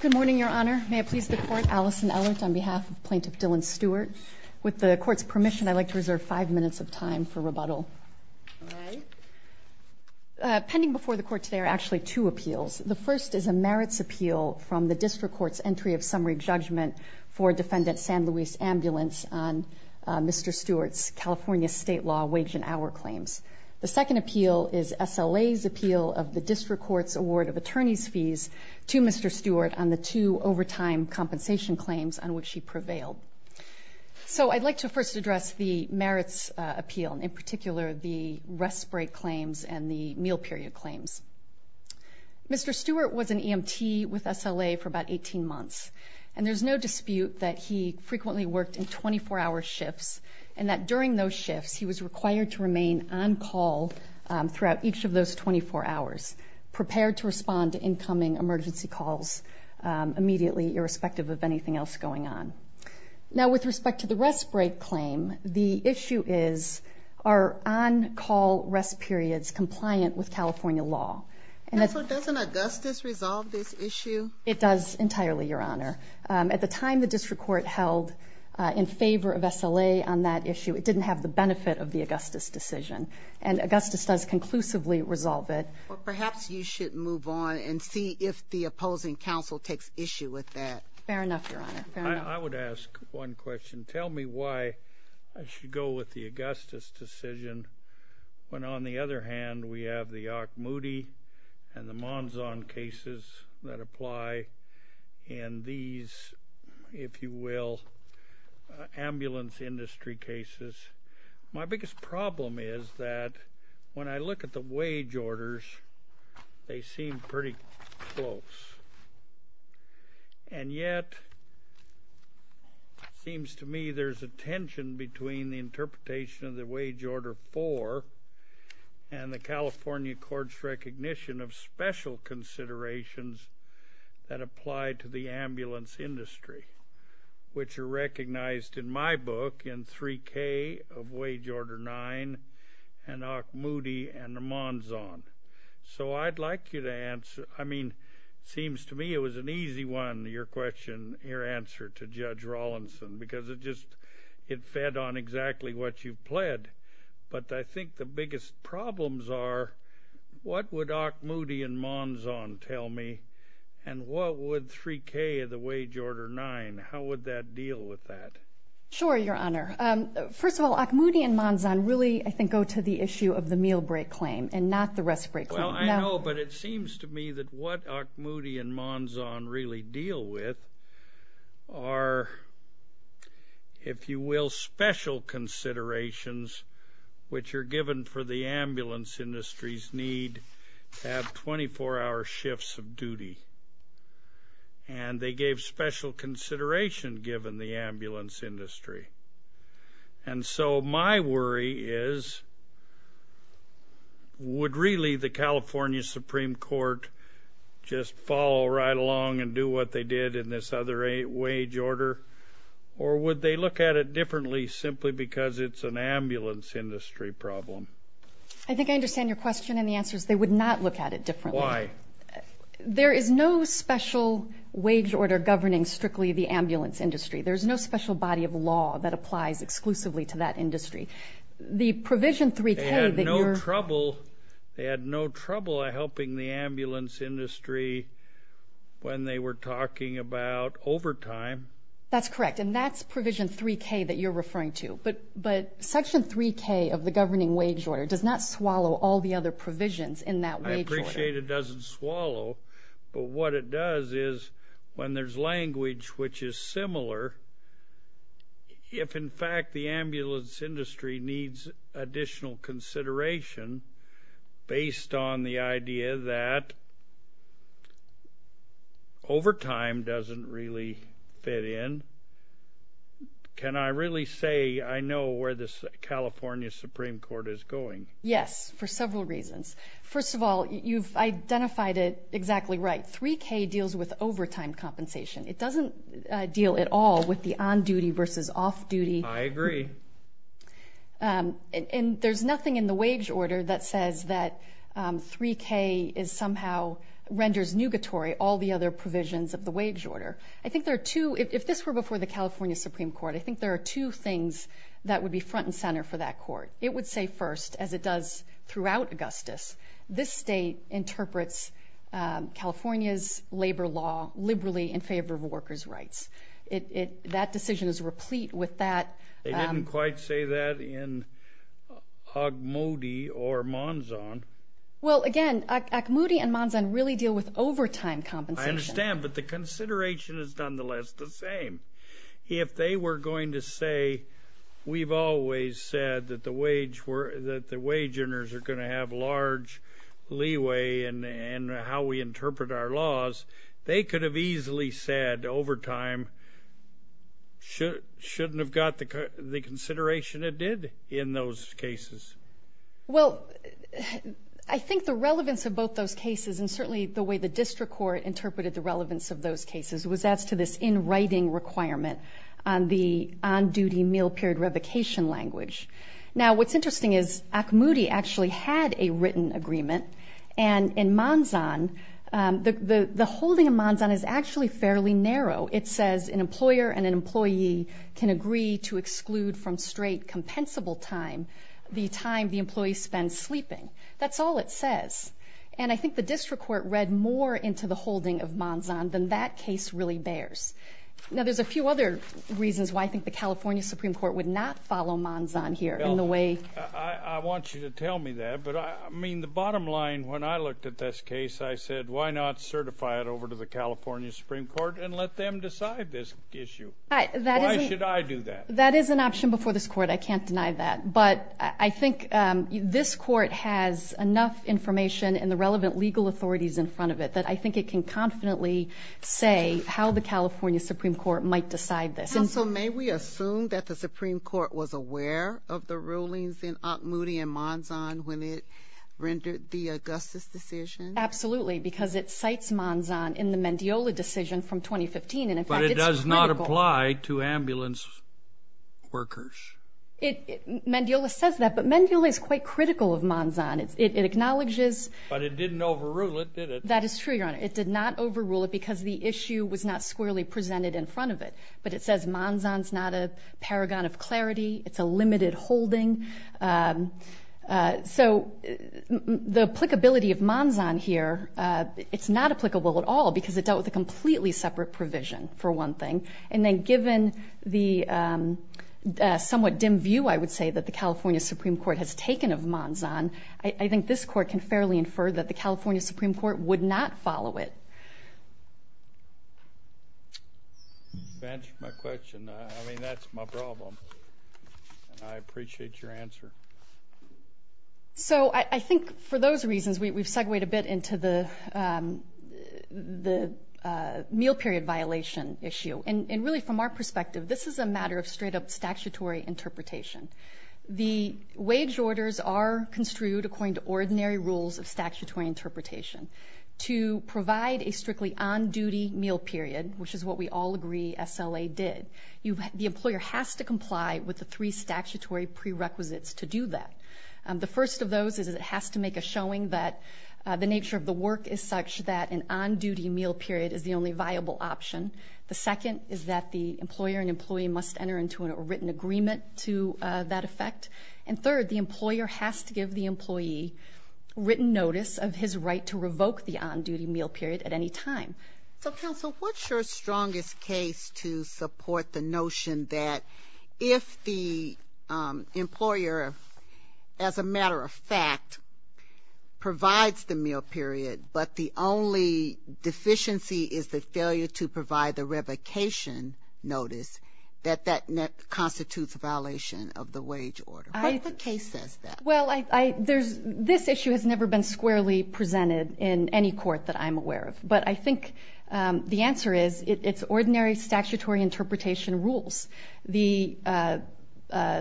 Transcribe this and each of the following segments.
Good morning, Your Honor. May it please the Court, Allison Ellert on behalf of Plaintiff Dylan Stewart. With the Court's permission, I'd like to reserve five minutes of time for rebuttal. All right. Pending before the Court today are actually two appeals. The first is a merits appeal from the District Court's Entry of Summary Judgment for Defendant San Luis Ambulance on Mr. Stewart's California State Law wage and hour claims. The second appeal is SLA's appeal of the District Court's Award of Attorney's Fees to Mr. Stewart on the two overtime compensation claims on which he prevailed. So I'd like to first address the merits appeal, and in particular the rest break claims and the meal period claims. Mr. Stewart was an EMT with SLA for about 18 months, and there's no dispute that he frequently worked in 24-hour shifts and that during those shifts he was required to remain on call throughout each of those 24 hours, prepared to respond to incoming emergency calls immediately, irrespective of anything else going on. Now, with respect to the rest break claim, the issue is, are on-call rest periods compliant with California law? So doesn't Augustus resolve this issue? It does entirely, Your Honor. At the time the District Court held in favor of SLA on that issue, it didn't have the benefit of the Augustus decision, and Augustus does conclusively resolve it. Well, perhaps you should move on and see if the opposing counsel takes issue with that. Fair enough, Your Honor. Fair enough. I would ask one question. Tell me why I should go with the Augustus decision when on the other hand we have the Ocmulgee and the Monzon cases that apply in these, if you will, ambulance industry cases. My biggest problem is that when I look at the wage orders, they seem pretty close, and yet it seems to me there's a tension between the interpretation of the wage order 4 and the California court's recognition of special considerations that apply to the ambulance industry, which are recognized in my book in 3K of wage order 9 and Ocmulgee and the Monzon. So I'd like you to answer. I mean, it seems to me it was an easy one, your question, your answer to Judge Rawlinson, because it just fed on exactly what you pled. But I think the biggest problems are what would Ocmulgee and Monzon tell me, and what would 3K of the wage order 9, how would that deal with that? Sure, Your Honor. First of all, Ocmulgee and Monzon really, I think, go to the issue of the meal break claim and not the rest break claim. Well, I know, but it seems to me that what Ocmulgee and Monzon really deal with are, if you will, special considerations which are given for the ambulance industry's need to have 24-hour shifts of duty, and they gave special consideration given the ambulance industry. And so my worry is would really the California Supreme Court just follow right along and do what they did in this other wage order, or would they look at it differently simply because it's an ambulance industry problem? I think I understand your question, and the answer is they would not look at it differently. Why? There is no special wage order governing strictly the ambulance industry. There is no special body of law that applies exclusively to that industry. The provision 3K that you're... They had no trouble helping the ambulance industry when they were talking about overtime. That's correct, and that's provision 3K that you're referring to. But Section 3K of the governing wage order does not swallow all the other provisions in that wage order. I appreciate it doesn't swallow, but what it does is when there's language which is similar, if in fact the ambulance industry needs additional consideration based on the idea that overtime doesn't really fit in, can I really say I know where the California Supreme Court is going? Yes, for several reasons. First of all, you've identified it exactly right. 3K deals with overtime compensation. It doesn't deal at all with the on-duty versus off-duty. I agree. And there's nothing in the wage order that says that 3K is somehow... renders nugatory all the other provisions of the wage order. I think there are two... If this were before the California Supreme Court, I think there are two things that would be front and center for that court. It would say first, as it does throughout Augustus, this state interprets California's labor law liberally in favor of workers' rights. That decision is replete with that... They didn't quite say that in Ocmulgee or Monzon. Well, again, Ocmulgee and Monzon really deal with overtime compensation. I understand, but the consideration is nonetheless the same. If they were going to say, we've always said that the wage earners are going to have large leeway in how we interpret our laws, they could have easily said, overtime shouldn't have got the consideration it did in those cases. Well, I think the relevance of both those cases, and certainly the way the district court interpreted the relevance of those cases, was as to this in-writing requirement on the on-duty meal period revocation language. Now, what's interesting is Ocmulgee actually had a written agreement, and in Monzon, the holding of Monzon is actually fairly narrow. It says an employer and an employee can agree to exclude from straight, compensable time the time the employee spends sleeping. That's all it says. And I think the district court read more into the holding of Monzon than that case really bears. Now, there's a few other reasons why I think the California Supreme Court would not follow Monzon here. I want you to tell me that, but I mean, the bottom line when I looked at this case, I said, why not certify it over to the California Supreme Court and let them decide this issue? Why should I do that? That is an option before this court. I can't deny that. But I think this court has enough information and the relevant legal authorities in front of it that I think it can confidently say how the California Supreme Court might decide this. Counsel, may we assume that the Supreme Court was aware of the rulings in Ocmulgee and Monzon when it rendered the Augustus decision? Absolutely, because it cites Monzon in the Mendiola decision from 2015. But it does not apply to ambulance workers. Mendiola says that, but Mendiola is quite critical of Monzon. It acknowledges. But it didn't overrule it, did it? That is true, Your Honor. It did not overrule it because the issue was not squarely presented in front of it. But it says Monzon is not a paragon of clarity. It's a limited holding. So the applicability of Monzon here, it's not applicable at all because it dealt with a completely separate provision, for one thing. And then given the somewhat dim view, I would say, that the California Supreme Court has taken of Monzon, I think this court can fairly infer that the California Supreme Court would not follow it. To answer my question, I mean, that's my problem. I appreciate your answer. So I think for those reasons, we've segued a bit into the meal period violation issue. And really from our perspective, this is a matter of straight-up statutory interpretation. The wage orders are construed according to ordinary rules of statutory interpretation. To provide a strictly on-duty meal period, which is what we all agree SLA did, the employer has to comply with the three statutory prerequisites to do that. The first of those is it has to make a showing that the nature of the work is such that an on-duty meal period is the only viable option. The second is that the employer and employee must enter into a written agreement to that effect. And third, the employer has to give the employee written notice of his right to revoke the on-duty meal period at any time. So, counsel, what's your strongest case to support the notion that if the employer, as a matter of fact, provides the meal period, but the only deficiency is the failure to provide the revocation notice, that that constitutes a violation of the wage order? What if the case says that? Well, this issue has never been squarely presented in any court that I'm aware of. But I think the answer is it's ordinary statutory interpretation rules. The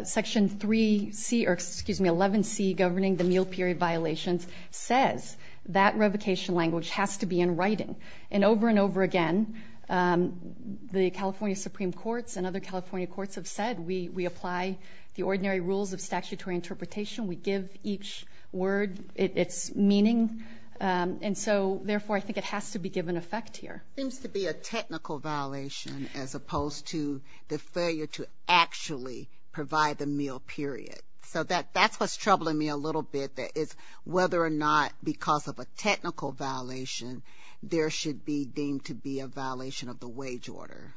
Section 3C or, excuse me, 11C governing the meal period violations says that revocation language has to be in writing. And over and over again, the California Supreme Courts and other California courts have said we apply the ordinary rules of statutory interpretation. We give each word its meaning. And so, therefore, I think it has to be given effect here. Seems to be a technical violation as opposed to the failure to actually provide the meal period. So that's what's troubling me a little bit, that it's whether or not because of a technical violation, there should be deemed to be a violation of the wage order.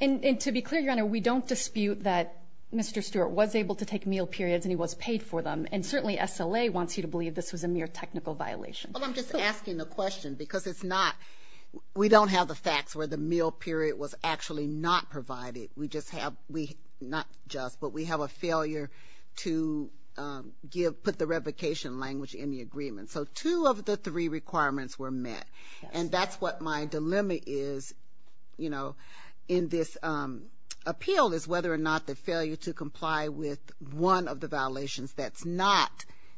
And to be clear, Your Honor, we don't dispute that Mr. Stewart was able to take meal periods and he was paid for them. And certainly SLA wants you to believe this was a mere technical violation. Well, I'm just asking a question because it's not, we don't have the facts where the meal period was actually not provided. We just have, not just, but we have a failure to give, put the revocation language in the agreement. So two of the three requirements were met. And that's what my dilemma is, you know, in this appeal, is whether or not the failure to comply with one of the violations that's not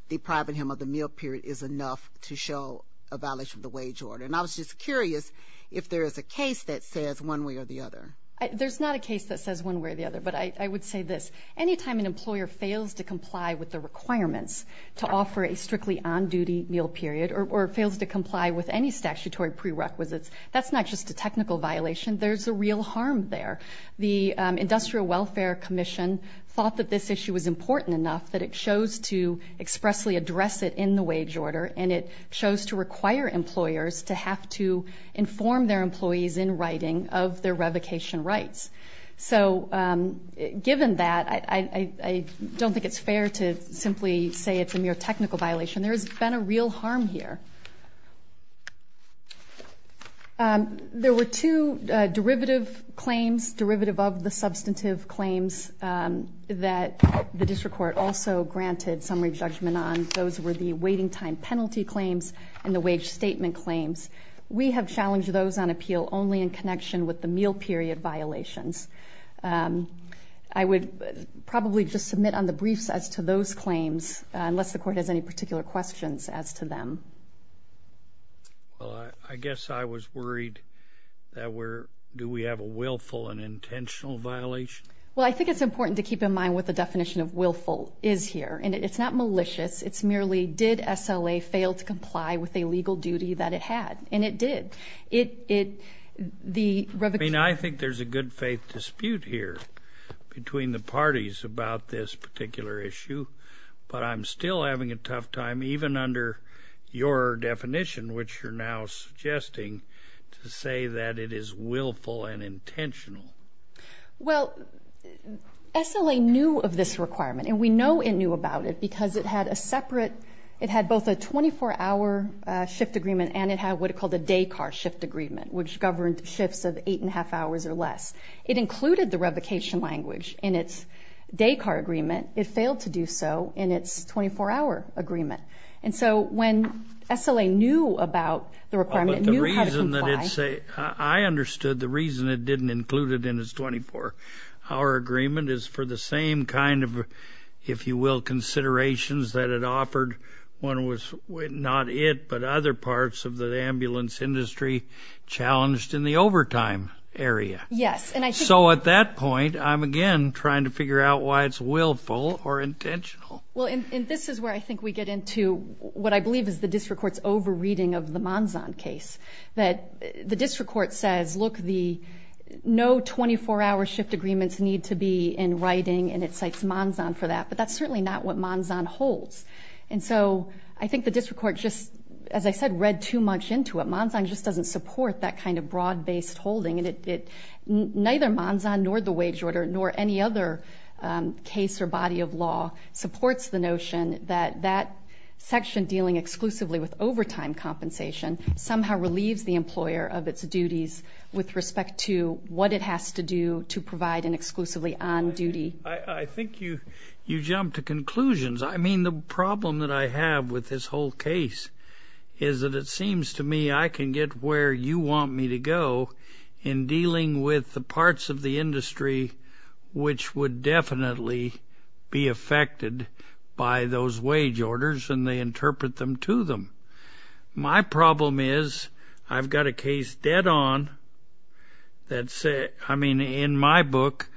depriving him of the meal period is enough to show a violation of the wage order. And I was just curious if there is a case that says one way or the other. There's not a case that says one way or the other. But I would say this. Anytime an employer fails to comply with the requirements to offer a strictly on-duty meal period or fails to comply with any statutory prerequisites, that's not just a technical violation. There's a real harm there. The Industrial Welfare Commission thought that this issue was important enough that it chose to expressly address it in the wage order and it chose to require employers to have to inform their employees in writing of their revocation rights. So given that, I don't think it's fair to simply say it's a mere technical violation. There has been a real harm here. There were two derivative claims, derivative of the substantive claims, that the district court also granted summary judgment on. Those were the waiting time penalty claims and the wage statement claims. We have challenged those on appeal only in connection with the meal period violations. I would probably just submit on the briefs as to those claims, unless the court has any particular questions as to them. Well, I guess I was worried that we're, do we have a willful and intentional violation? Well, I think it's important to keep in mind what the definition of willful is here. And it's not malicious. It's merely, did SLA fail to comply with a legal duty that it had? And it did. I mean, I think there's a good faith dispute here between the parties about this particular issue. But I'm still having a tough time, even under your definition, which you're now suggesting to say that it is willful and intentional. Well, SLA knew of this requirement, and we know it knew about it because it had a separate, it had both a 24-hour shift agreement and it had what it called a day car shift agreement, which governed shifts of eight and a half hours or less. It included the revocation language in its day car agreement. It failed to do so in its 24-hour agreement. And so when SLA knew about the requirement, it knew how to comply. I understood the reason it didn't include it in its 24-hour agreement is for the same kind of, if you will, considerations that it offered when it was not it but other parts of the ambulance industry challenged in the overtime area. Yes. So at that point, I'm, again, trying to figure out why it's willful or intentional. Well, and this is where I think we get into what I believe is the district court's over-reading of the Monzon case. The district court says, look, no 24-hour shift agreements need to be in writing, and it cites Monzon for that. But that's certainly not what Monzon holds. And so I think the district court just, as I said, read too much into it. Monzon just doesn't support that kind of broad-based holding. And neither Monzon nor the wage order nor any other case or body of law supports the notion that that section dealing exclusively with overtime compensation somehow relieves the employer of its duties with respect to what it has to do to provide an exclusively on duty. I think you jumped to conclusions. I mean, the problem that I have with this whole case is that it seems to me I can get where you want me to go in dealing with the parts of the industry which would definitely be affected by those wage orders and they interpret them to them. My problem is I've got a case dead on that's, I mean, in my book,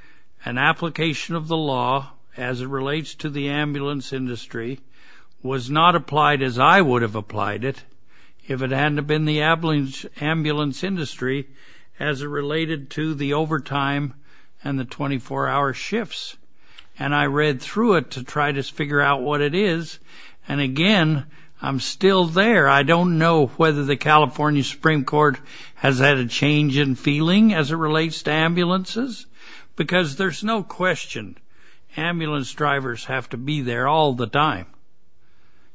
an application of the law as it relates to the ambulance industry was not applied as I would have applied it if it hadn't been the ambulance industry as it related to the overtime and the 24-hour shifts. And I read through it to try to figure out what it is, and again, I'm still there. I don't know whether the California Supreme Court has had a change in feeling as it relates to ambulances because there's no question ambulance drivers have to be there all the time.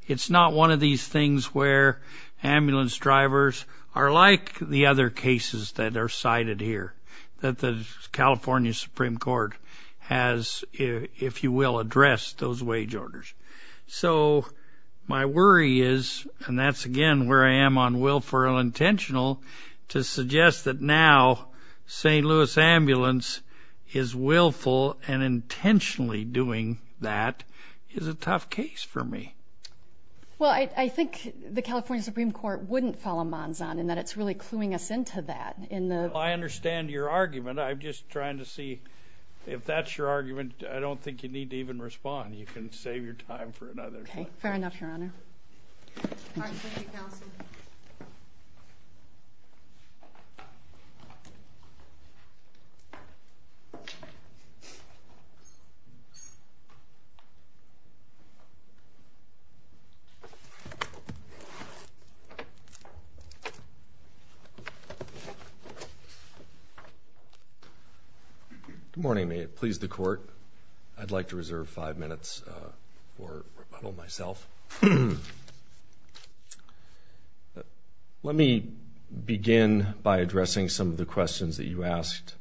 It's not one of these things where ambulance drivers are like the other cases that are cited here that the California Supreme Court has, if you will, addressed those wage orders. So my worry is, and that's again where I am on willful or unintentional, to suggest that now St. Louis Ambulance is willful and intentionally doing that is a tough case for me. Well, I think the California Supreme Court wouldn't follow Monson in that it's really cluing us into that. Well, I understand your argument. I'm just trying to see if that's your argument. I don't think you need to even respond. You can save your time for another one. Okay, fair enough, Your Honor. All right, thank you, Counsel. Good morning. May it please the Court, I'd like to reserve five minutes for rebuttal myself. Let me begin by addressing some of the questions that you asked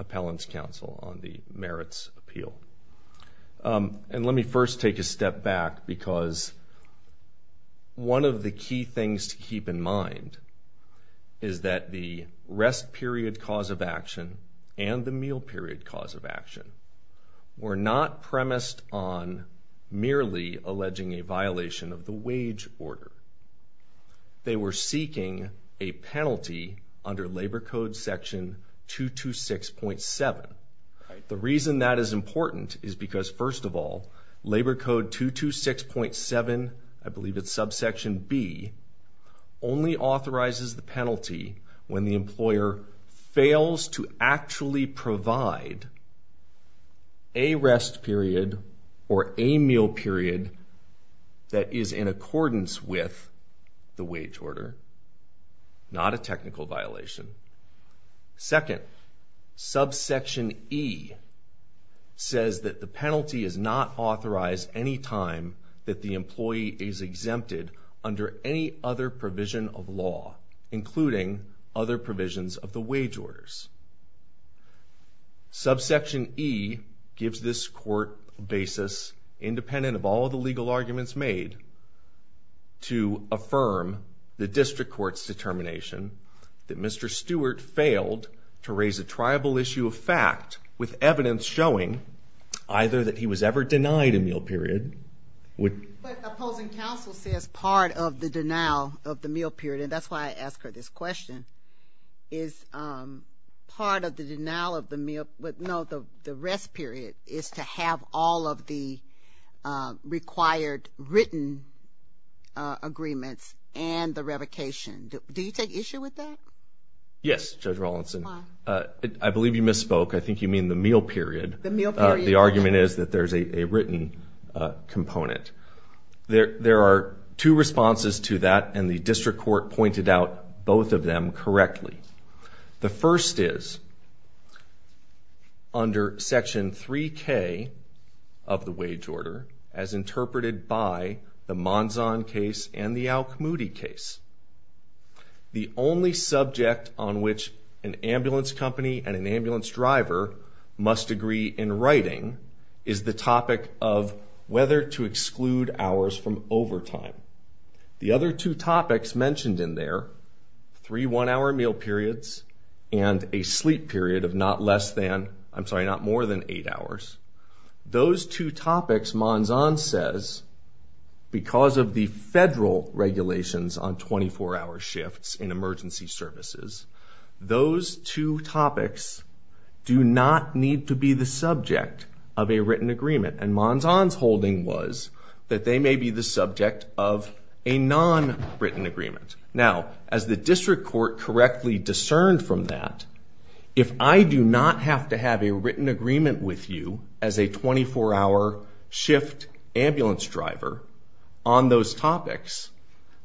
Appellant's Counsel on the merits appeal. And let me first take a step back because one of the key things to keep in mind is that the rest period cause of action and the meal period cause of action were not premised on merely alleging a violation of the wage order. They were seeking a penalty under Labor Code Section 226.7. The reason that is important is because, first of all, Labor Code 226.7, I believe it's subsection B, only authorizes the penalty when the employer fails to actually provide a rest period or a meal period that is in accordance with the wage order, not a technical violation. Second, subsection E says that the penalty is not authorized any time that the employee is exempted under any other provision of law, including other provisions of the wage orders. Subsection E gives this Court a basis, independent of all of the legal arguments made, to affirm the district court's determination that Mr. Stewart failed to raise a triable issue of fact with evidence showing either that he was ever denied a meal period. But Appellant's Counsel says part of the denial of the meal period, and that's why I ask her this question, is part of the denial of the meal, no, the rest period, is to have all of the required written agreements and the revocation. Do you take issue with that? Yes, Judge Rawlinson. Why? I believe you misspoke. I think you mean the meal period. The meal period. The argument is that there's a written component. There are two responses to that, and the district court pointed out both of them correctly. The first is, under Section 3K of the wage order, as interpreted by the Monzon case and the Al-Khmudi case, the only subject on which an ambulance company and an ambulance driver must agree in writing is the topic of whether to exclude hours from overtime. The other two topics mentioned in there, three one-hour meal periods and a sleep period of not less than, I'm sorry, not more than eight hours, those two topics, Monzon says, because of the federal regulations on 24-hour shifts in emergency services, those two topics do not need to be the subject of a written agreement. And Monzon's holding was that they may be the subject of a non-written agreement. Now, as the district court correctly discerned from that, if I do not have to have a written agreement with you as a 24-hour shift ambulance driver on those topics,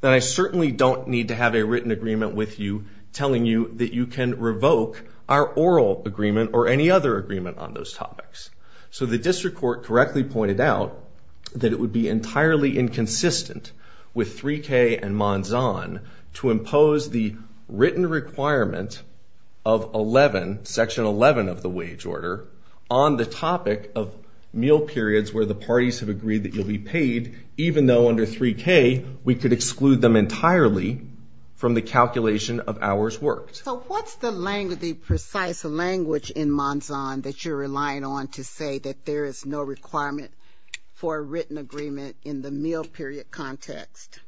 then I certainly don't need to have a written agreement with you telling you that you can revoke our oral agreement or any other agreement on those topics. So the district court correctly pointed out that it would be entirely inconsistent with 3K and Monzon to impose the written requirement of Section 11 of the wage order on the topic of meal periods where the parties have agreed that you'll be paid even though under 3K we could exclude them entirely from the calculation of hours worked. So what's the precise language in Monzon that you're relying on to say that there is no requirement for a written agreement in the meal period context?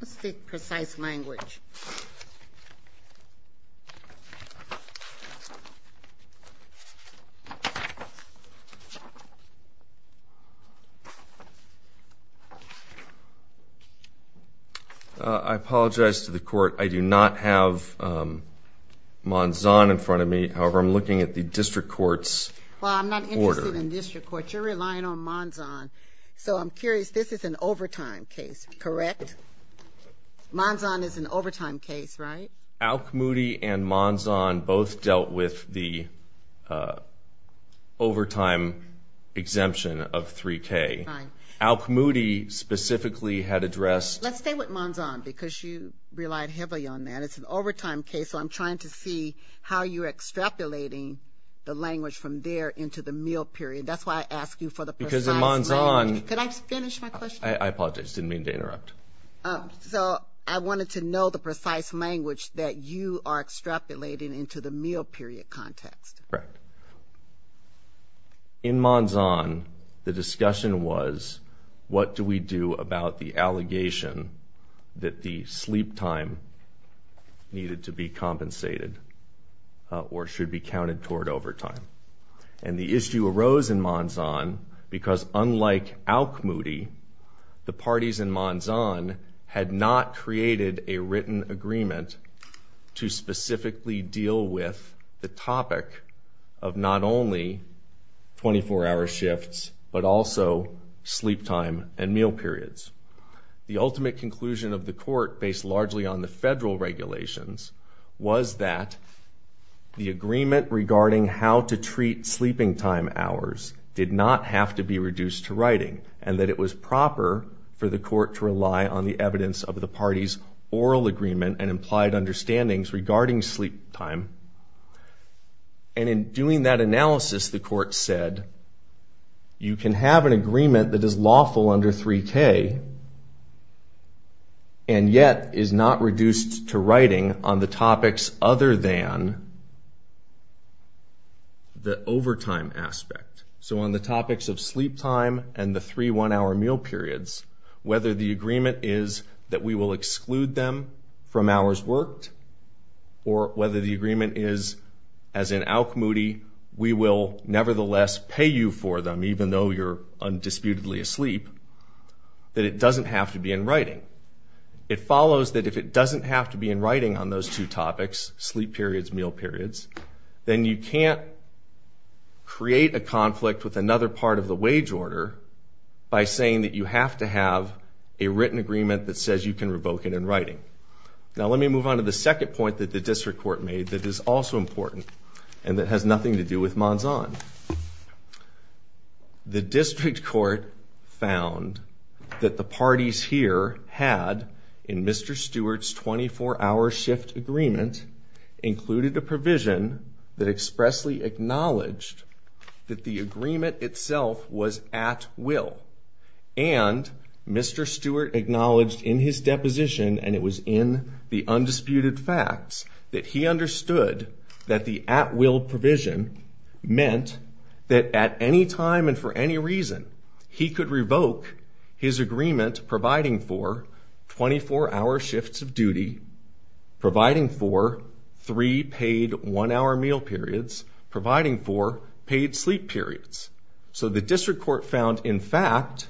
Let's see precise language. I apologize to the court. I do not have Monzon in front of me. However, I'm looking at the district court's order. Well, I'm not interested in district court. You're relying on Monzon. So I'm curious, this is an overtime case, correct? Monzon is an overtime case, right? Al-Khmudi and Monzon both dealt with the overtime exemption of 3K. Al-Khmudi specifically had addressed Let's stay with Monzon because you relied heavily on that. It's an overtime case, so I'm trying to see how you're extrapolating the language from there into the meal period. That's why I asked you for the precise language. Could I finish my question? I apologize. I didn't mean to interrupt. So I wanted to know the precise language that you are extrapolating into the meal period context. Correct. In Monzon, the discussion was what do we do about the allegation that the sleep time needed to be compensated or should be counted toward overtime. And the issue arose in Monzon because, unlike Al-Khmudi, the parties in Monzon had not created a written agreement to specifically deal with the topic of not only 24-hour shifts, but also sleep time and meal periods. The ultimate conclusion of the court, based largely on the federal regulations, was that the agreement regarding how to treat sleeping time hours did not have to be reduced to writing and that it was proper for the court to rely on the evidence of the parties' oral agreement and implied understandings regarding sleep time. And in doing that analysis, the court said, you can have an agreement that is lawful under 3K and yet is not reduced to writing on the topics other than the overtime aspect. So on the topics of sleep time and the three one-hour meal periods, whether the agreement is that we will exclude them from hours worked or whether the agreement is, as in Al-Khmudi, we will nevertheless pay you for them, even though you're undisputedly asleep, that it doesn't have to be in writing. It follows that if it doesn't have to be in writing on those two topics, sleep periods, meal periods, then you can't create a conflict with another part of the wage order by saying that you have to have a written agreement that says you can revoke it in writing. Now let me move on to the second point that the district court made that is also important and that has nothing to do with Manzan. The district court found that the parties here had, in Mr. Stewart's 24-hour shift agreement, included a provision that expressly acknowledged that the agreement itself was at will. And Mr. Stewart acknowledged in his deposition, and it was in the undisputed facts, that he understood that the at-will provision meant that at any time and for any reason he could revoke his agreement providing for 24-hour shifts of duty, providing for three paid one-hour meal periods, providing for paid sleep periods. So the district court found, in fact,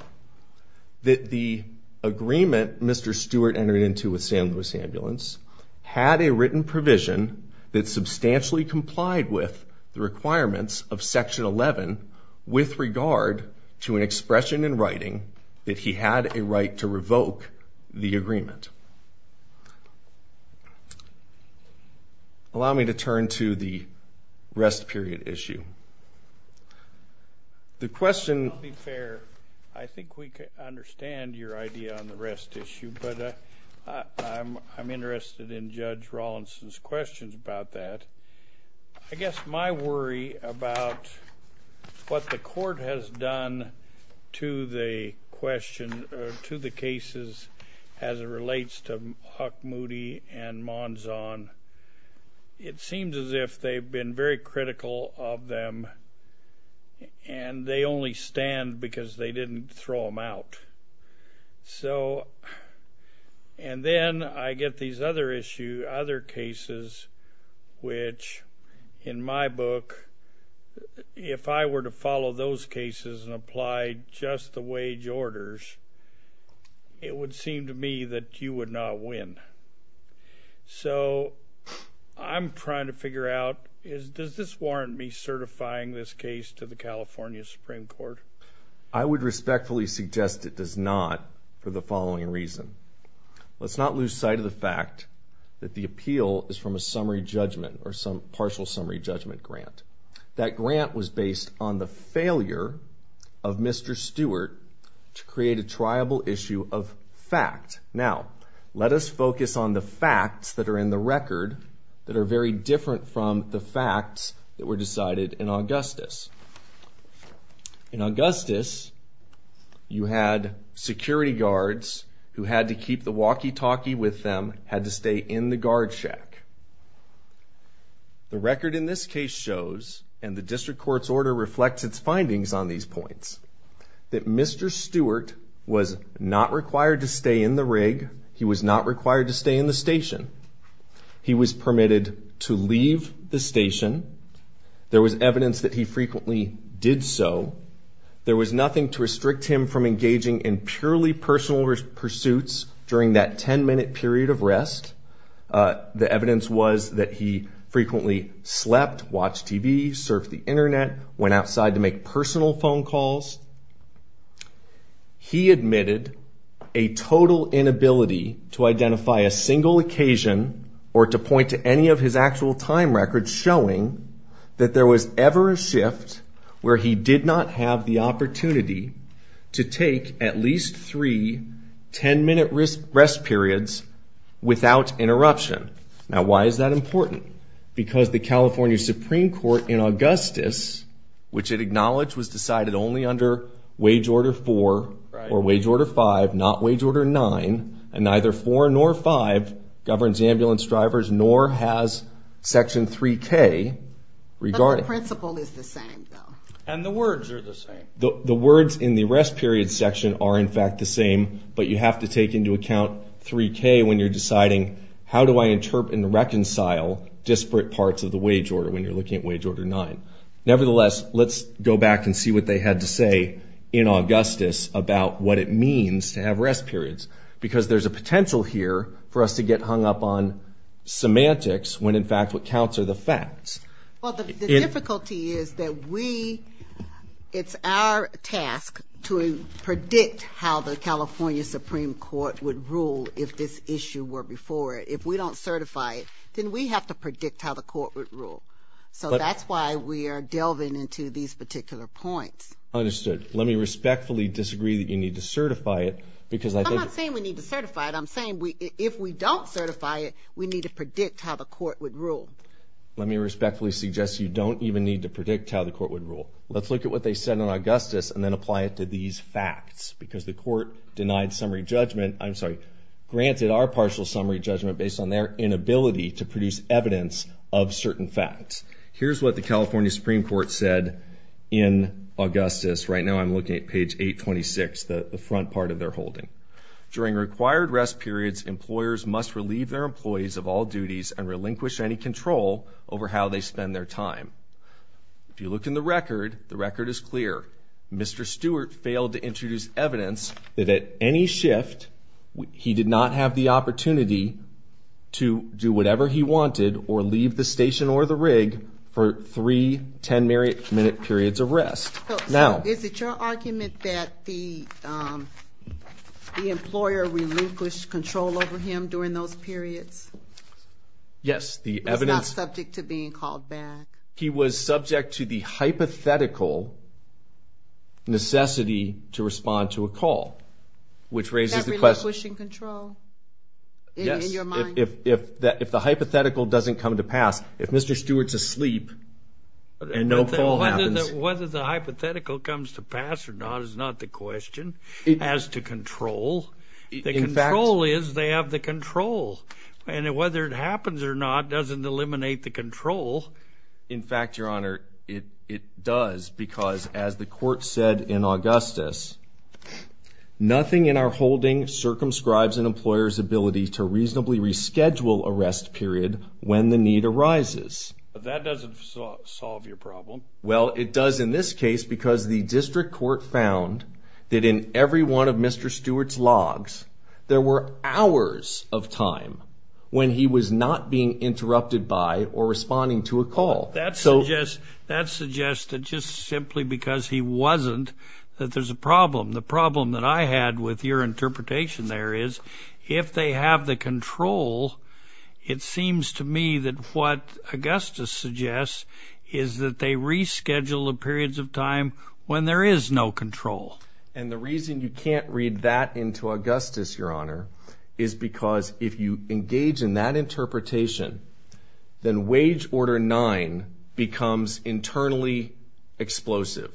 that the agreement Mr. Stewart entered into with San Luis Ambulance had a written provision that substantially complied with the requirements of Section 11 with regard to an expression in writing that he had a right to revoke the agreement. All right. Allow me to turn to the rest period issue. The question... I'll be fair. I think we can understand your idea on the rest issue, but I'm interested in Judge Rawlinson's questions about that. I guess my worry about what the court has done to the question, to the cases as it relates to Huck Moody and Monzon, it seems as if they've been very critical of them, and they only stand because they didn't throw them out. So, and then I get these other issues, other cases, which in my book, if I were to follow those cases and apply just the wage orders, it would seem to me that you would not win. So I'm trying to figure out, does this warrant me certifying this case to the California Supreme Court? I would respectfully suggest it does not for the following reason. Let's not lose sight of the fact that the appeal is from a summary judgment or some partial summary judgment grant. That grant was based on the failure of Mr. Stewart to create a triable issue of fact. Now, let us focus on the facts that are in the record that are very different from the facts that were decided in Augustus. In Augustus, you had security guards who had to keep the walkie-talkie with them, had to stay in the guard shack. The record in this case shows, and the district court's order reflects its findings on these points, that Mr. Stewart was not required to stay in the rig. He was not required to stay in the station. He was permitted to leave the station. There was evidence that he frequently did so. There was nothing to restrict him from engaging in purely personal pursuits during that 10-minute period of rest. The evidence was that he frequently slept, watched TV, surfed the Internet, went outside to make personal phone calls. He admitted a total inability to identify a single occasion or to point to any of his actual time records showing that there was ever a shift where he did not have the opportunity to take at least three 10-minute rest periods without interruption. Now, why is that important? Because the California Supreme Court in Augustus, which it acknowledged was decided only under wage order 4 or wage order 5, not wage order 9, and neither 4 nor 5 governs ambulance drivers nor has section 3K regarded. But the principle is the same, though. And the words are the same. The words in the rest period section are in fact the same, but you have to take into account 3K when you're deciding how do I interpret and reconcile disparate parts of the wage order when you're looking at wage order 9. Nevertheless, let's go back and see what they had to say in Augustus about what it means to have rest periods, because there's a potential here for us to get hung up on semantics when in fact what counts are the facts. Well, the difficulty is that we, it's our task to predict how the California Supreme Court would rule if this issue were before it. If we don't certify it, then we have to predict how the court would rule. So that's why we are delving into these particular points. Understood. Let me respectfully disagree that you need to certify it because I think... I'm not saying we need to certify it. I'm saying if we don't certify it, we need to predict how the court would rule. Let me respectfully suggest you don't even need to predict how the court would rule. Let's look at what they said in Augustus and then apply it to these facts, because the court denied summary judgment, I'm sorry, granted our partial summary judgment based on their inability to produce evidence of certain facts. Here's what the California Supreme Court said in Augustus. Right now I'm looking at page 826, the front part of their holding. During required rest periods, employers must relieve their employees of all duties and relinquish any control over how they spend their time. If you look in the record, the record is clear. Mr. Stewart failed to introduce evidence that at any shift he did not have the opportunity to do whatever he wanted or leave the station or the rig for three 10-minute periods of rest. So is it your argument that the employer relinquished control over him during those periods? Yes. He was not subject to being called back. He was subject to the hypothetical necessity to respond to a call, which raises the question. Is that relinquishing control in your mind? Yes. If the hypothetical doesn't come to pass, if Mr. Stewart's asleep and no call happens. Whether the hypothetical comes to pass or not is not the question. As to control, the control is they have the control. And whether it happens or not doesn't eliminate the control. In fact, Your Honor, it does because as the court said in Augustus, nothing in our holding circumscribes an employer's ability to reasonably reschedule a rest period when the need arises. That doesn't solve your problem. Well, it does in this case because the district court found that in every one of Mr. Stewart's logs, there were hours of time when he was not being interrupted by or responding to a call. That suggests that just simply because he wasn't that there's a problem. The problem that I had with your interpretation there is if they have the control, it seems to me that what Augustus suggests is that they reschedule the periods of time when there is no control. And the reason you can't read that into Augustus, Your Honor, is because if you engage in that interpretation, then wage order nine becomes internally explosive.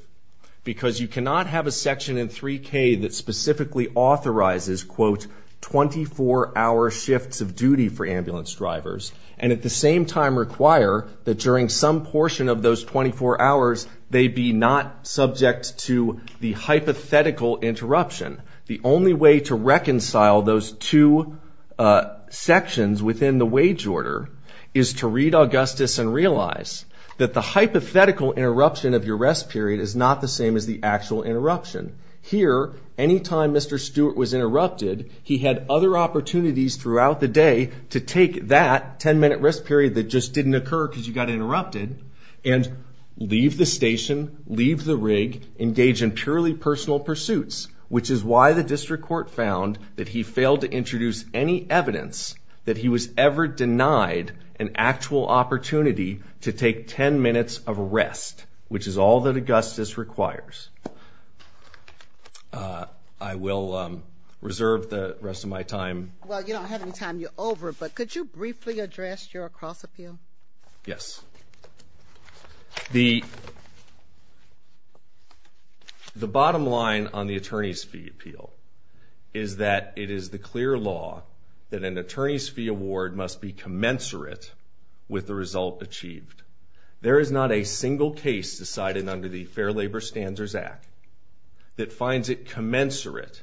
Because you cannot have a section in 3K that specifically authorizes, quote, 24-hour shifts of duty for ambulance drivers, and at the same time require that during some portion of those 24 hours, they be not subject to the hypothetical interruption. The only way to reconcile those two sections within the wage order is to read Augustus and realize that the hypothetical interruption of your rest period is not the same as the actual interruption. Here, any time Mr. Stewart was interrupted, he had other opportunities throughout the day to take that 10-minute rest period that just didn't occur because you got interrupted and leave the station, leave the rig, engage in purely personal pursuits, which is why the district court found that he failed to introduce any evidence that he was ever denied an actual opportunity to take 10 minutes of rest, which is all that Augustus requires. I will reserve the rest of my time. Well, you don't have any time. You're over, but could you briefly address your cross-appeal? Yes. The bottom line on the attorney's fee appeal is that it is the clear law that an attorney's fee award must be commensurate with the result achieved. There is not a single case decided under the Fair Labor Standards Act that finds it commensurate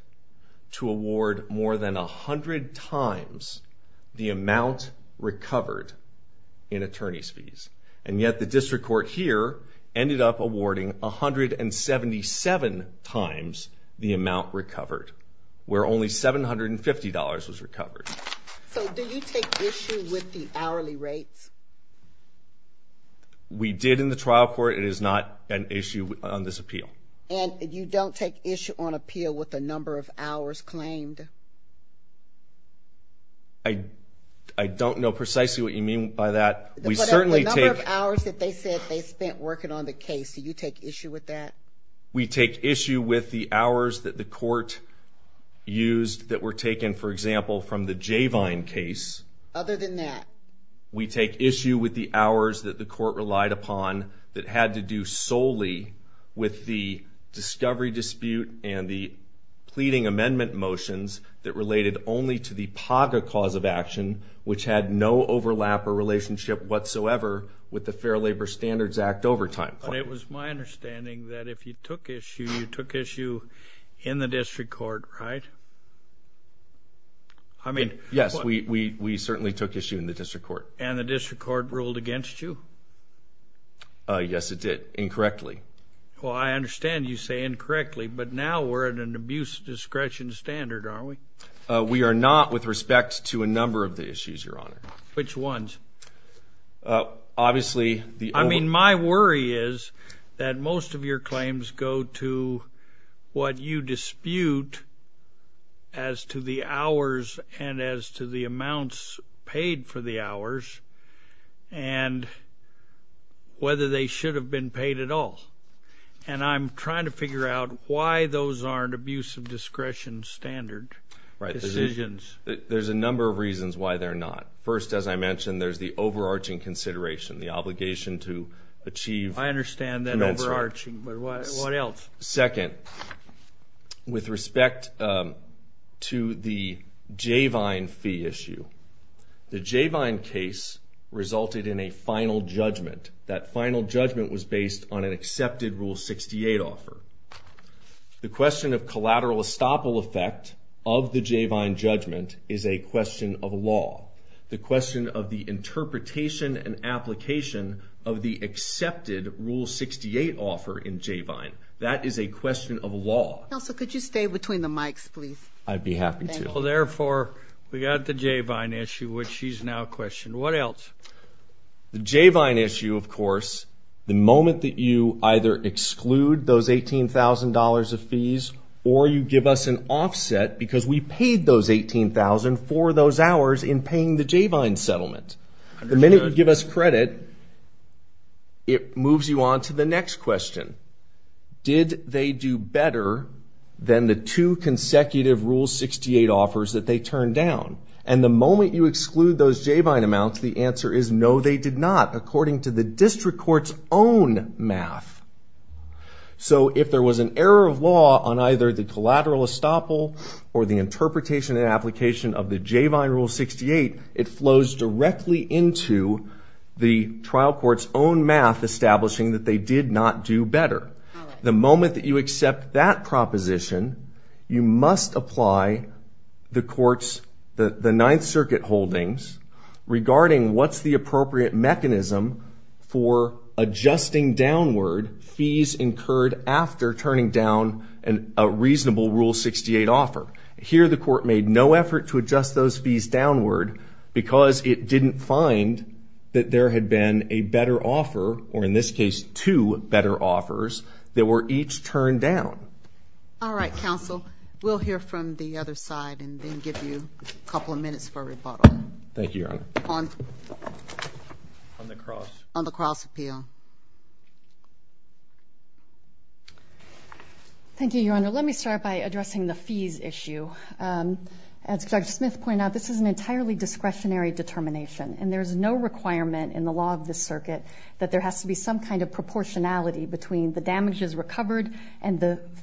to award more than 100 times the amount recovered in attorney's fees, and yet the district court here ended up awarding 177 times the amount recovered, where only $750 was recovered. So do you take issue with the hourly rates? We did in the trial court. It is not an issue on this appeal. And you don't take issue on appeal with the number of hours claimed? I don't know precisely what you mean by that. The number of hours that they said they spent working on the case, do you take issue with that? We take issue with the hours that the court used that were taken, for example, from the Javine case. Other than that? We take issue with the hours that the court relied upon that had to do solely with the discovery dispute and the pleading amendment motions that related only to the PAGA cause of action, which had no overlap or relationship whatsoever with the Fair Labor Standards Act overtime plan. But it was my understanding that if you took issue, you took issue in the district court, right? Yes, we certainly took issue in the district court. And the district court ruled against you? Yes, it did, incorrectly. Well, I understand you say incorrectly, but now we're at an abuse discretion standard, aren't we? We are not with respect to a number of the issues, Your Honor. Which ones? I mean, my worry is that most of your claims go to what you dispute as to the hours and as to the amounts paid for the hours and whether they should have been paid at all. And I'm trying to figure out why those aren't abuse of discretion standard decisions. There's a number of reasons why they're not. First, as I mentioned, there's the overarching consideration, the obligation to achieve an answer. I understand that overarching, but what else? Second, with respect to the Jayvine fee issue, the Jayvine case resulted in a final judgment. That final judgment was based on an accepted Rule 68 offer. The question of collateral estoppel effect of the Jayvine judgment is a question of law. The question of the interpretation and application of the accepted Rule 68 offer in Jayvine, that is a question of law. Counsel, could you stay between the mics, please? I'd be happy to. Thank you. Well, therefore, we got the Jayvine issue, which she's now questioned. What else? The Jayvine issue, of course, the moment that you either exclude those $18,000 of fees or you give us an offset because we paid those $18,000 for those hours in paying the Jayvine settlement. The minute you give us credit, it moves you on to the next question. Did they do better than the two consecutive Rule 68 offers that they turned down? And the moment you exclude those Jayvine amounts, the answer is no, they did not, according to the district court's own math. So if there was an error of law on either the collateral estoppel or the interpretation and application of the Jayvine Rule 68, it flows directly into the trial court's own math establishing that they did not do better. The moment that you accept that proposition, you must apply the court's, the Ninth Circuit holdings regarding what's the appropriate mechanism for adjusting downward fees incurred after turning down a reasonable Rule 68 offer. Here, the court made no effort to adjust those fees downward because it didn't find that there had been a better offer or, in this case, two better offers that were each turned down. All right, counsel. We'll hear from the other side and then give you a couple of minutes for rebuttal. Thank you, Your Honor. On the cross? On the cross appeal. Thank you, Your Honor. Let me start by addressing the fees issue. As Judge Smith pointed out, this is an entirely discretionary determination, and there's no requirement in the law of this circuit that there has to be some kind of proportionality between the damages recovered and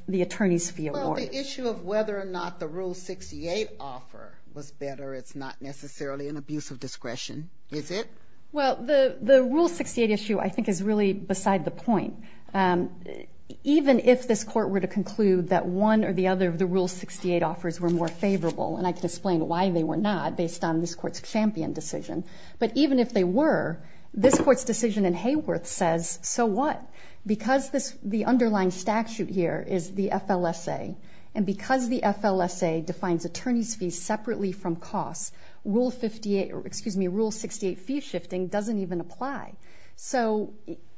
the attorney's fee award. Well, the issue of whether or not the Rule 68 offer was better is not necessarily an abuse of discretion, is it? Well, the Rule 68 issue I think is really beside the point. Even if this court were to conclude that one or the other of the Rule 68 offers were more favorable, and I can explain why they were not based on this court's champion decision, but even if they were, this court's decision in Hayworth says, so what? Because the underlying statute here is the FLSA, and because the FLSA defines attorney's fees separately from costs, Rule 68 fee shifting doesn't even apply. So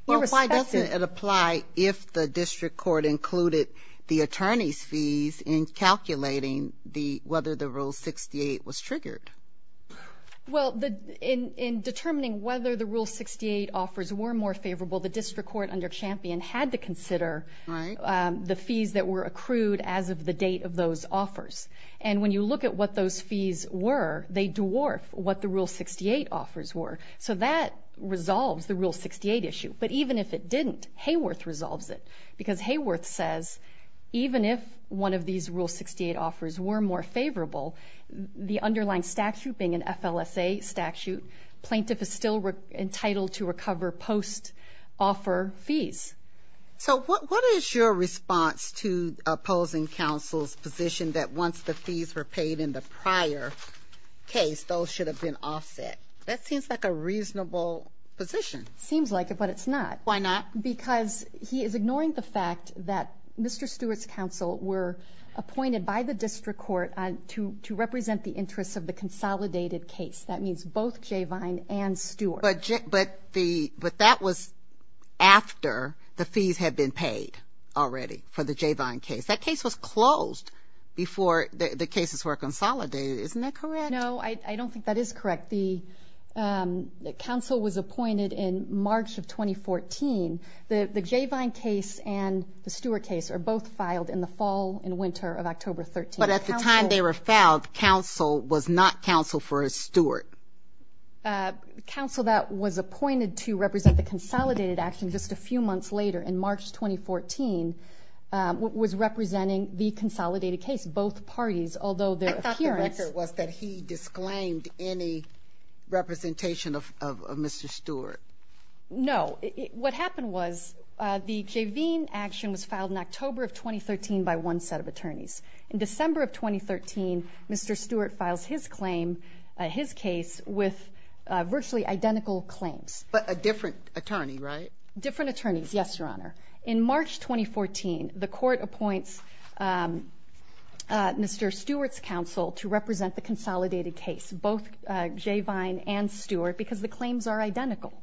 irrespective of why it doesn't apply if the district court included the attorney's fees in calculating whether the Rule 68 was triggered. Well, in determining whether the Rule 68 offers were more favorable, the district court under champion had to consider the fees that were accrued as of the date of those offers. And when you look at what those fees were, they dwarf what the Rule 68 offers were. So that resolves the Rule 68 issue. But even if it didn't, Hayworth resolves it, because Hayworth says even if one of these Rule 68 offers were more favorable, the underlying statute being an FLSA statute, plaintiff is still entitled to recover post-offer fees. So what is your response to opposing counsel's position that once the fees were paid in the prior case, those should have been offset? That seems like a reasonable position. Seems like it, but it's not. Why not? Because he is ignoring the fact that Mr. Stewart's counsel were appointed by the district court to represent the interests of the consolidated case. That means both J. Vine and Stewart. But that was after the fees had been paid already for the J. Vine case. That case was closed before the cases were consolidated. Isn't that correct? No, I don't think that is correct. The counsel was appointed in March of 2014. The J. Vine case and the Stewart case are both filed in the fall and winter of October 13. But at the time they were filed, counsel was not counsel for Stewart. Counsel that was appointed to represent the consolidated action just a few months later, in March 2014, was representing the consolidated case, both parties, although their appearance. Your answer was that he disclaimed any representation of Mr. Stewart. No. What happened was the J. Vine action was filed in October of 2013 by one set of attorneys. In December of 2013, Mr. Stewart files his claim, his case, with virtually identical claims. But a different attorney, right? Different attorneys, yes, Your Honor. In March 2014, the court appoints Mr. Stewart's counsel to represent the consolidated case, both J. Vine and Stewart, because the claims are identical.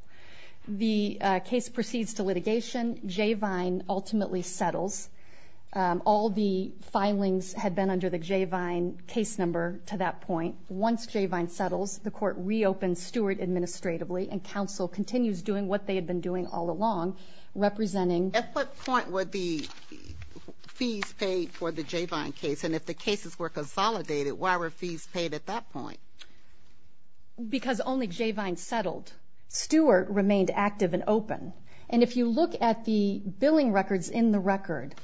The case proceeds to litigation. J. Vine ultimately settles. All the filings had been under the J. Vine case number to that point. Once J. Vine settles, the court reopens Stewart administratively, and counsel continues doing what they had been doing all along, representing. At what point were the fees paid for the J. Vine case? And if the cases were consolidated, why were fees paid at that point? Because only J. Vine settled. Stewart remained active and open. And if you look at the billing records in the record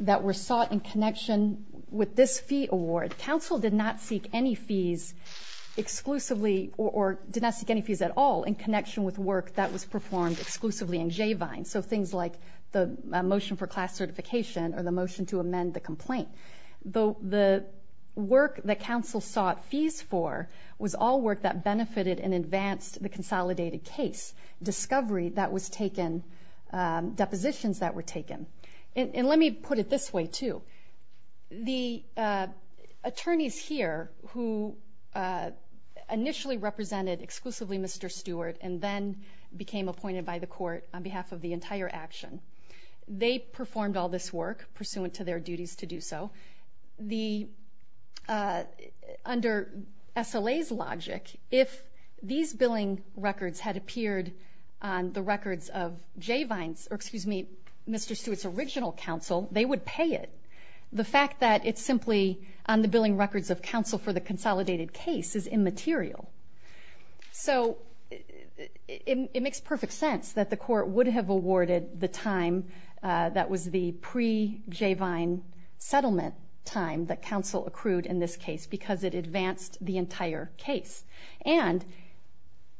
that were sought in connection with this fee award, counsel did not seek any fees exclusively or did not seek any fees at all in connection with work that was performed exclusively in J. Vine, so things like the motion for class certification or the motion to amend the complaint. The work that counsel sought fees for was all work that benefited and advanced the consolidated case, discovery that was taken, depositions that were taken. And let me put it this way, too. The attorneys here who initially represented exclusively Mr. Stewart and then became appointed by the court on behalf of the entire action, they performed all this work pursuant to their duties to do so. Under SLA's logic, if these billing records had appeared on the records of J. Vine's or, excuse me, Mr. Stewart's original counsel, they would pay it. The fact that it's simply on the billing records of counsel for the consolidated case is immaterial. So it makes perfect sense that the court would have awarded the time that was the pre-J. Vine settlement time that counsel accrued in this case because it advanced the entire case. And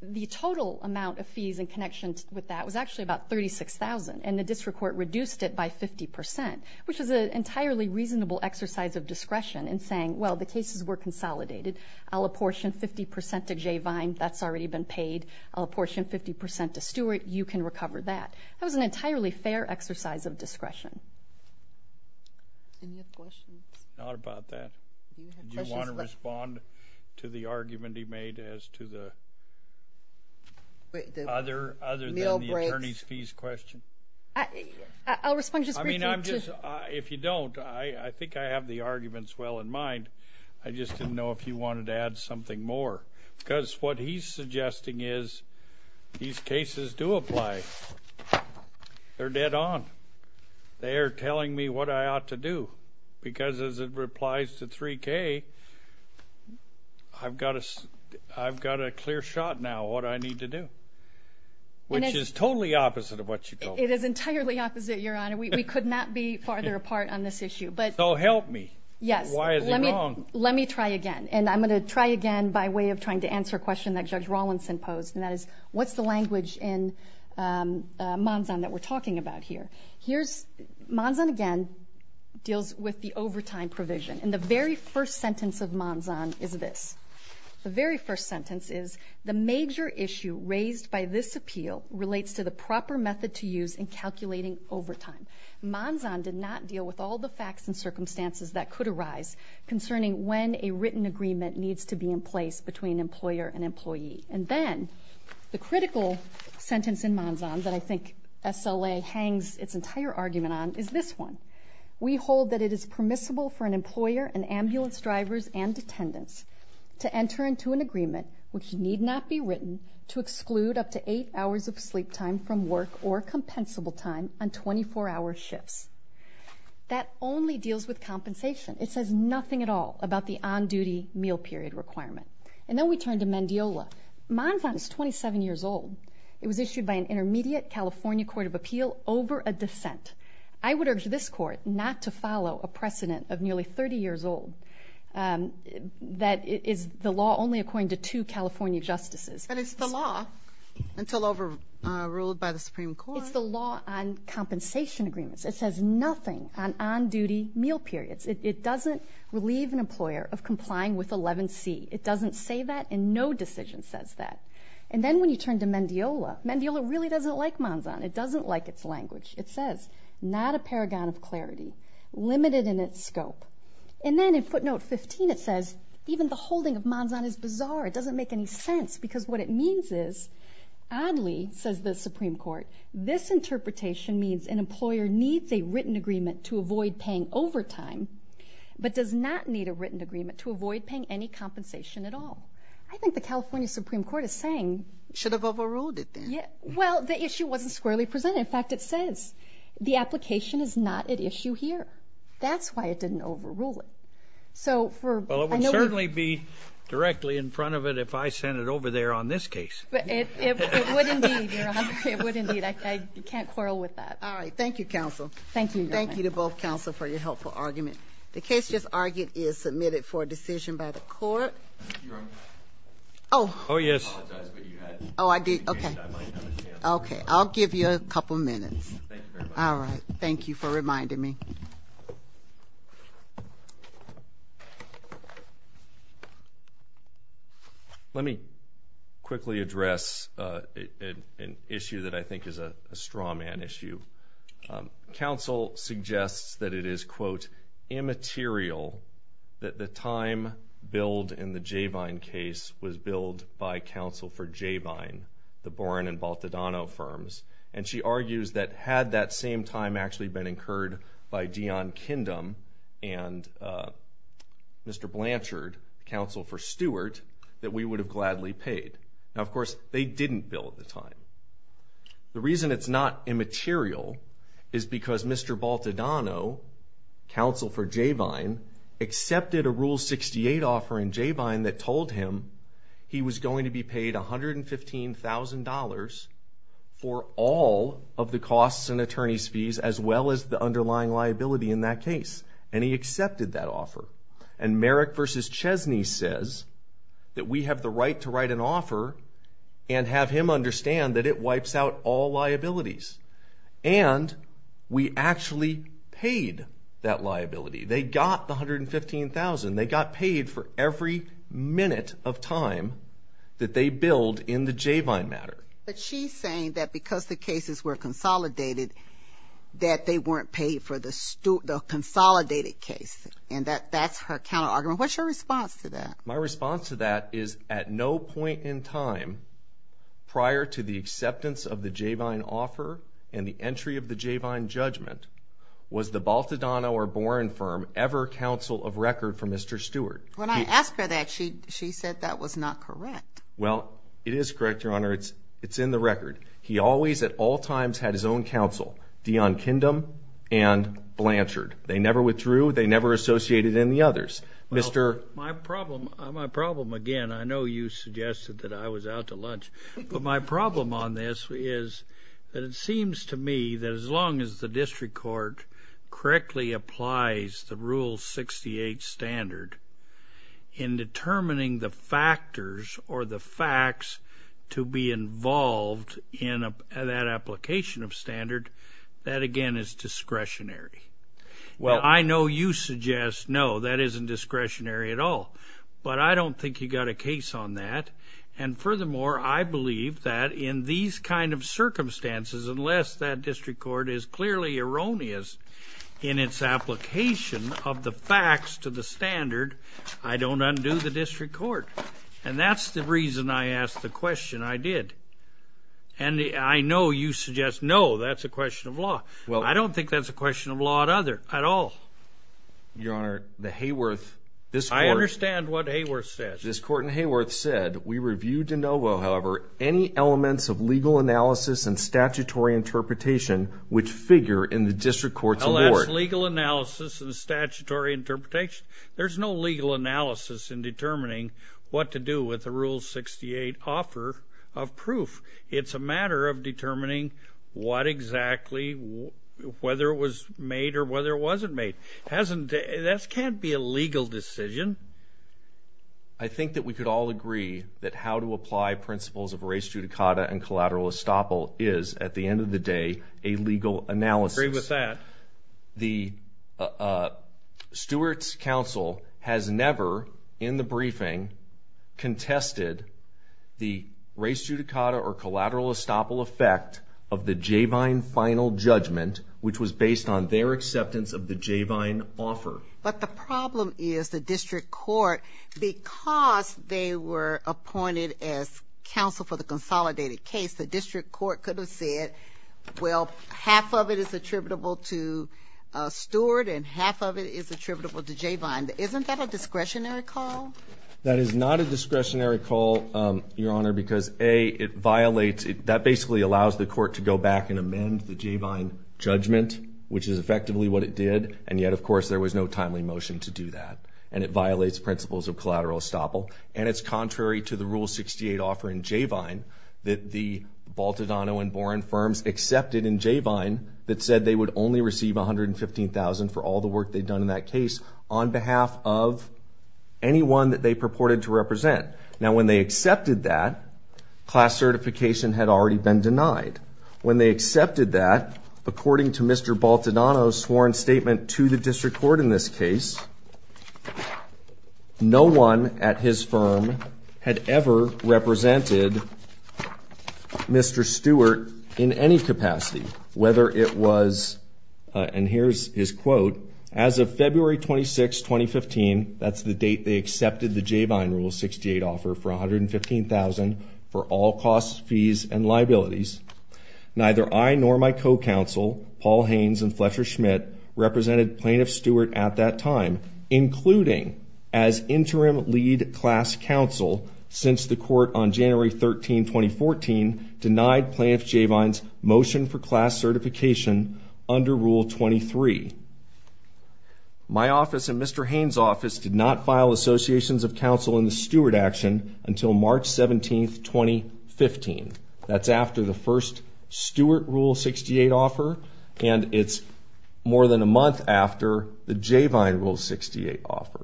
the total amount of fees in connection with that was actually about $36,000, and the district court reduced it by 50%, which is an entirely reasonable exercise of discretion in saying, well, the cases were consolidated. I'll apportion 50% to J. Vine. That's already been paid. I'll apportion 50% to Stewart. You can recover that. That was an entirely fair exercise of discretion. Any other questions? Not about that. Do you want to respond to the argument he made as to the other than the attorney's fees question? I'll respond just briefly. If you don't, I think I have the arguments well in mind. I just didn't know if you wanted to add something more because what he's suggesting is these cases do apply. They're dead on. They are telling me what I ought to do because, as it applies to 3K, I've got a clear shot now what I need to do, which is totally opposite of what you told me. It is entirely opposite, Your Honor. We could not be farther apart on this issue. So help me. Yes. Why is he wrong? Let me try again, and I'm going to try again by way of trying to answer a question that Judge Rawlinson posed, and that is, what's the language in Manzan that we're talking about here? Manzan, again, deals with the overtime provision. And the very first sentence of Manzan is this. The very first sentence is, The major issue raised by this appeal relates to the proper method to use in calculating overtime. Manzan did not deal with all the facts and circumstances that could arise concerning when a written agreement needs to be in place between employer and employee. And then the critical sentence in Manzan that I think SLA hangs its entire argument on is this one. We hold that it is permissible for an employer and ambulance drivers and attendants to enter into an agreement, which need not be written, to exclude up to eight hours of sleep time from work or compensable time on 24-hour shifts. That only deals with compensation. It says nothing at all about the on-duty meal period requirement. And then we turn to Mendiola. Manzan is 27 years old. It was issued by an intermediate California court of appeal over a dissent. I would urge this court not to follow a precedent of nearly 30 years old that is the law only according to two California justices. But it's the law, until overruled by the Supreme Court. It's the law on compensation agreements. It says nothing on on-duty meal periods. It doesn't relieve an employer of complying with 11C. It doesn't say that, and no decision says that. And then when you turn to Mendiola, Mendiola really doesn't like Manzan. It doesn't like its language. It says, not a paragon of clarity, limited in its scope. And then in footnote 15 it says, even the holding of Manzan is bizarre. It doesn't make any sense because what it means is, oddly, says the Supreme Court, this interpretation means an employer needs a written agreement to avoid paying overtime, but does not need a written agreement to avoid paying any compensation at all. I think the California Supreme Court is saying. It should have overruled it then. Well, the issue wasn't squarely presented. In fact, it says the application is not at issue here. That's why it didn't overrule it. Well, it would certainly be directly in front of it if I sent it over there on this case. It would indeed, Your Honor. It would indeed. All right. Thank you, counsel. Thank you, Your Honor. Thank you all, counsel, for your helpful argument. The case just argued is submitted for a decision by the court. Your Honor. Oh. Oh, yes. I apologize, but you had a chance. Oh, I did? Okay. I might not have a chance. Okay. I'll give you a couple minutes. Thank you very much. All right. Thank you for reminding me. Let me quickly address an issue that I think is a straw man issue. Counsel suggests that it is, quote, immaterial that the time billed in the Javine case was billed by counsel for Javine, the Boren and Baltadano firms. And she argues that had that same time actually been incurred by Dion Kindem and Mr. Blanchard, counsel for Stewart, that we would have gladly paid. Now, of course, they didn't bill at the time. The reason it's not immaterial is because Mr. Baltadano, counsel for Javine, accepted a Rule 68 offer in Javine that told him he was going to be paid $115,000 for all of the costs and attorney's fees, as well as the underlying liability in that case. And he accepted that offer. And Merrick v. Chesney says that we have the right to write an offer and have him understand that it wipes out all liabilities. And we actually paid that liability. They got the $115,000. They got paid for every minute of time that they billed in the Javine matter. But she's saying that because the cases were consolidated, that they weren't paid for the consolidated case, and that that's her counterargument. What's your response to that? My response to that is at no point in time, prior to the acceptance of the Javine offer and the entry of the Javine judgment, was the Baltadano or Boren firm ever counsel of record for Mr. Stewart. When I asked her that, she said that was not correct. Well, it is correct, Your Honor. It's in the record. He always at all times had his own counsel, Dion Kindem and Blanchard. They never withdrew. They never associated any others. My problem, again, I know you suggested that I was out to lunch, but my problem on this is that it seems to me that as long as the district court correctly applies the Rule 68 standard in determining the factors or the facts to be involved in that application of standard, that, again, is discretionary. Well, I know you suggest no, that isn't discretionary at all, but I don't think you got a case on that. And furthermore, I believe that in these kind of circumstances, unless that district court is clearly erroneous in its application of the facts to the standard, I don't undo the district court. And that's the reason I asked the question I did. I don't think that's a question of law at all. Your Honor, the Hayworth. I understand what Hayworth said. This court in Hayworth said, We review de novo, however, any elements of legal analysis and statutory interpretation which figure in the district court's award. Alas, legal analysis and statutory interpretation? There's no legal analysis in determining what to do with the Rule 68 offer of proof. It's a matter of determining what exactly, whether it was made or whether it wasn't made. That can't be a legal decision. I think that we could all agree that how to apply principles of res judicata and collateral estoppel is, at the end of the day, a legal analysis. I agree with that. The Stewart's counsel has never, in the briefing, contested the res judicata or collateral estoppel effect of the Javine final judgment, which was based on their acceptance of the Javine offer. But the problem is the district court, because they were appointed as counsel for the consolidated case, the district court could have said, well, half of it is attributable to Stewart and half of it is attributable to Javine. Isn't that a discretionary call? That is not a discretionary call, Your Honor, because, A, it violates, that basically allows the court to go back and amend the Javine judgment, which is effectively what it did. And yet, of course, there was no timely motion to do that. And it violates principles of collateral estoppel. And it's contrary to the Rule 68 offer in Javine that the Baltadano and Boren firms accepted in Javine that said they would only receive $115,000 for all the work they'd done in that case on behalf of anyone that they purported to represent. Now, when they accepted that, class certification had already been denied. When they accepted that, according to Mr. Baltadano's sworn statement to the district court in this case, no one at his firm had ever represented Mr. Stewart in any capacity, whether it was, and here's his quote, as of February 26, 2015, that's the date they accepted the Javine Rule 68 offer for $115,000 for all costs, fees, and liabilities, neither I nor my co-counsel, Paul Haynes and Fletcher Schmidt, represented Plaintiff Stewart at that time, including as interim lead class counsel since the court on January 13, 2014, denied Plaintiff Javine's motion for class certification under Rule 23. My office and Mr. Haynes' office did not file associations of counsel in the Stewart action until March 17, 2015. That's after the first Stewart Rule 68 offer, and it's more than a month after the Javine Rule 68 offer.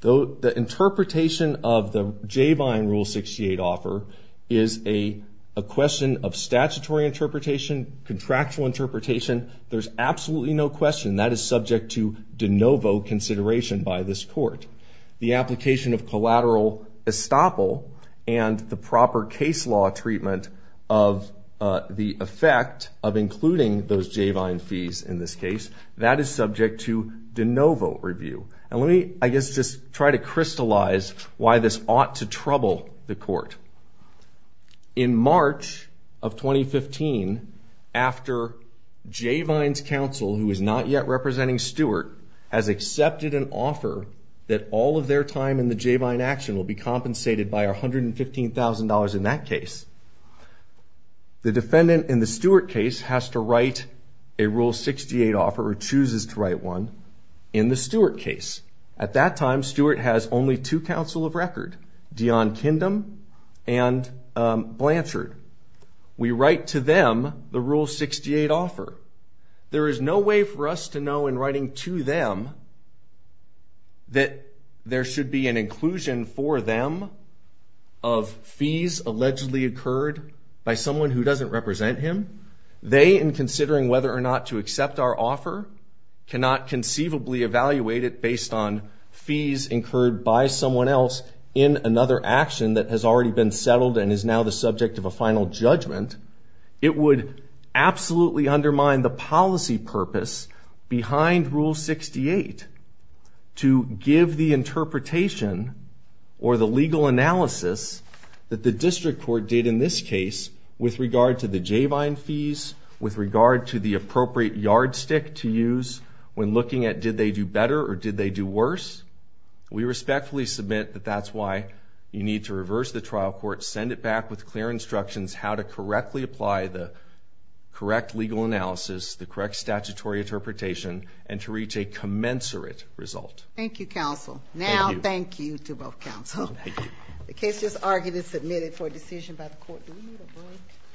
The interpretation of the Javine Rule 68 offer is a question of statutory interpretation, contractual interpretation. There's absolutely no question that is subject to de novo consideration by this court. The application of collateral estoppel and the proper case law treatment of the effect of including those Javine fees in this case, that is subject to de novo review. And let me, I guess, just try to crystallize why this ought to trouble the court. In March of 2015, after Javine's counsel, who is not yet representing Stewart, has accepted an offer that all of their time in the Javine action will be compensated by $115,000 in that case, the defendant in the Stewart case has to write a Rule 68 offer or chooses to write one in the Stewart case. At that time, Stewart has only two counsel of record, Dion Kindem and Blanchard. We write to them the Rule 68 offer. There is no way for us to know in writing to them that there should be an inclusion for them of fees allegedly occurred by someone who doesn't represent him. They, in considering whether or not to accept our offer, cannot conceivably evaluate it based on fees incurred by someone else in another action that has already been settled and is now the subject of a final judgment. It would absolutely undermine the policy purpose behind Rule 68 to give the interpretation or the legal analysis that the district court did in this case with regard to the Javine fees, with regard to the appropriate yardstick to use when looking at did they do better or did they do worse. We respectfully submit that that's why you need to reverse the trial court, send it back with clear instructions how to correctly apply the correct legal analysis, the correct statutory interpretation, and to reach a commensurate result. Thank you, counsel. Thank you. Now, thank you to both counsel. Thank you. The case is argued and submitted for decision by the court.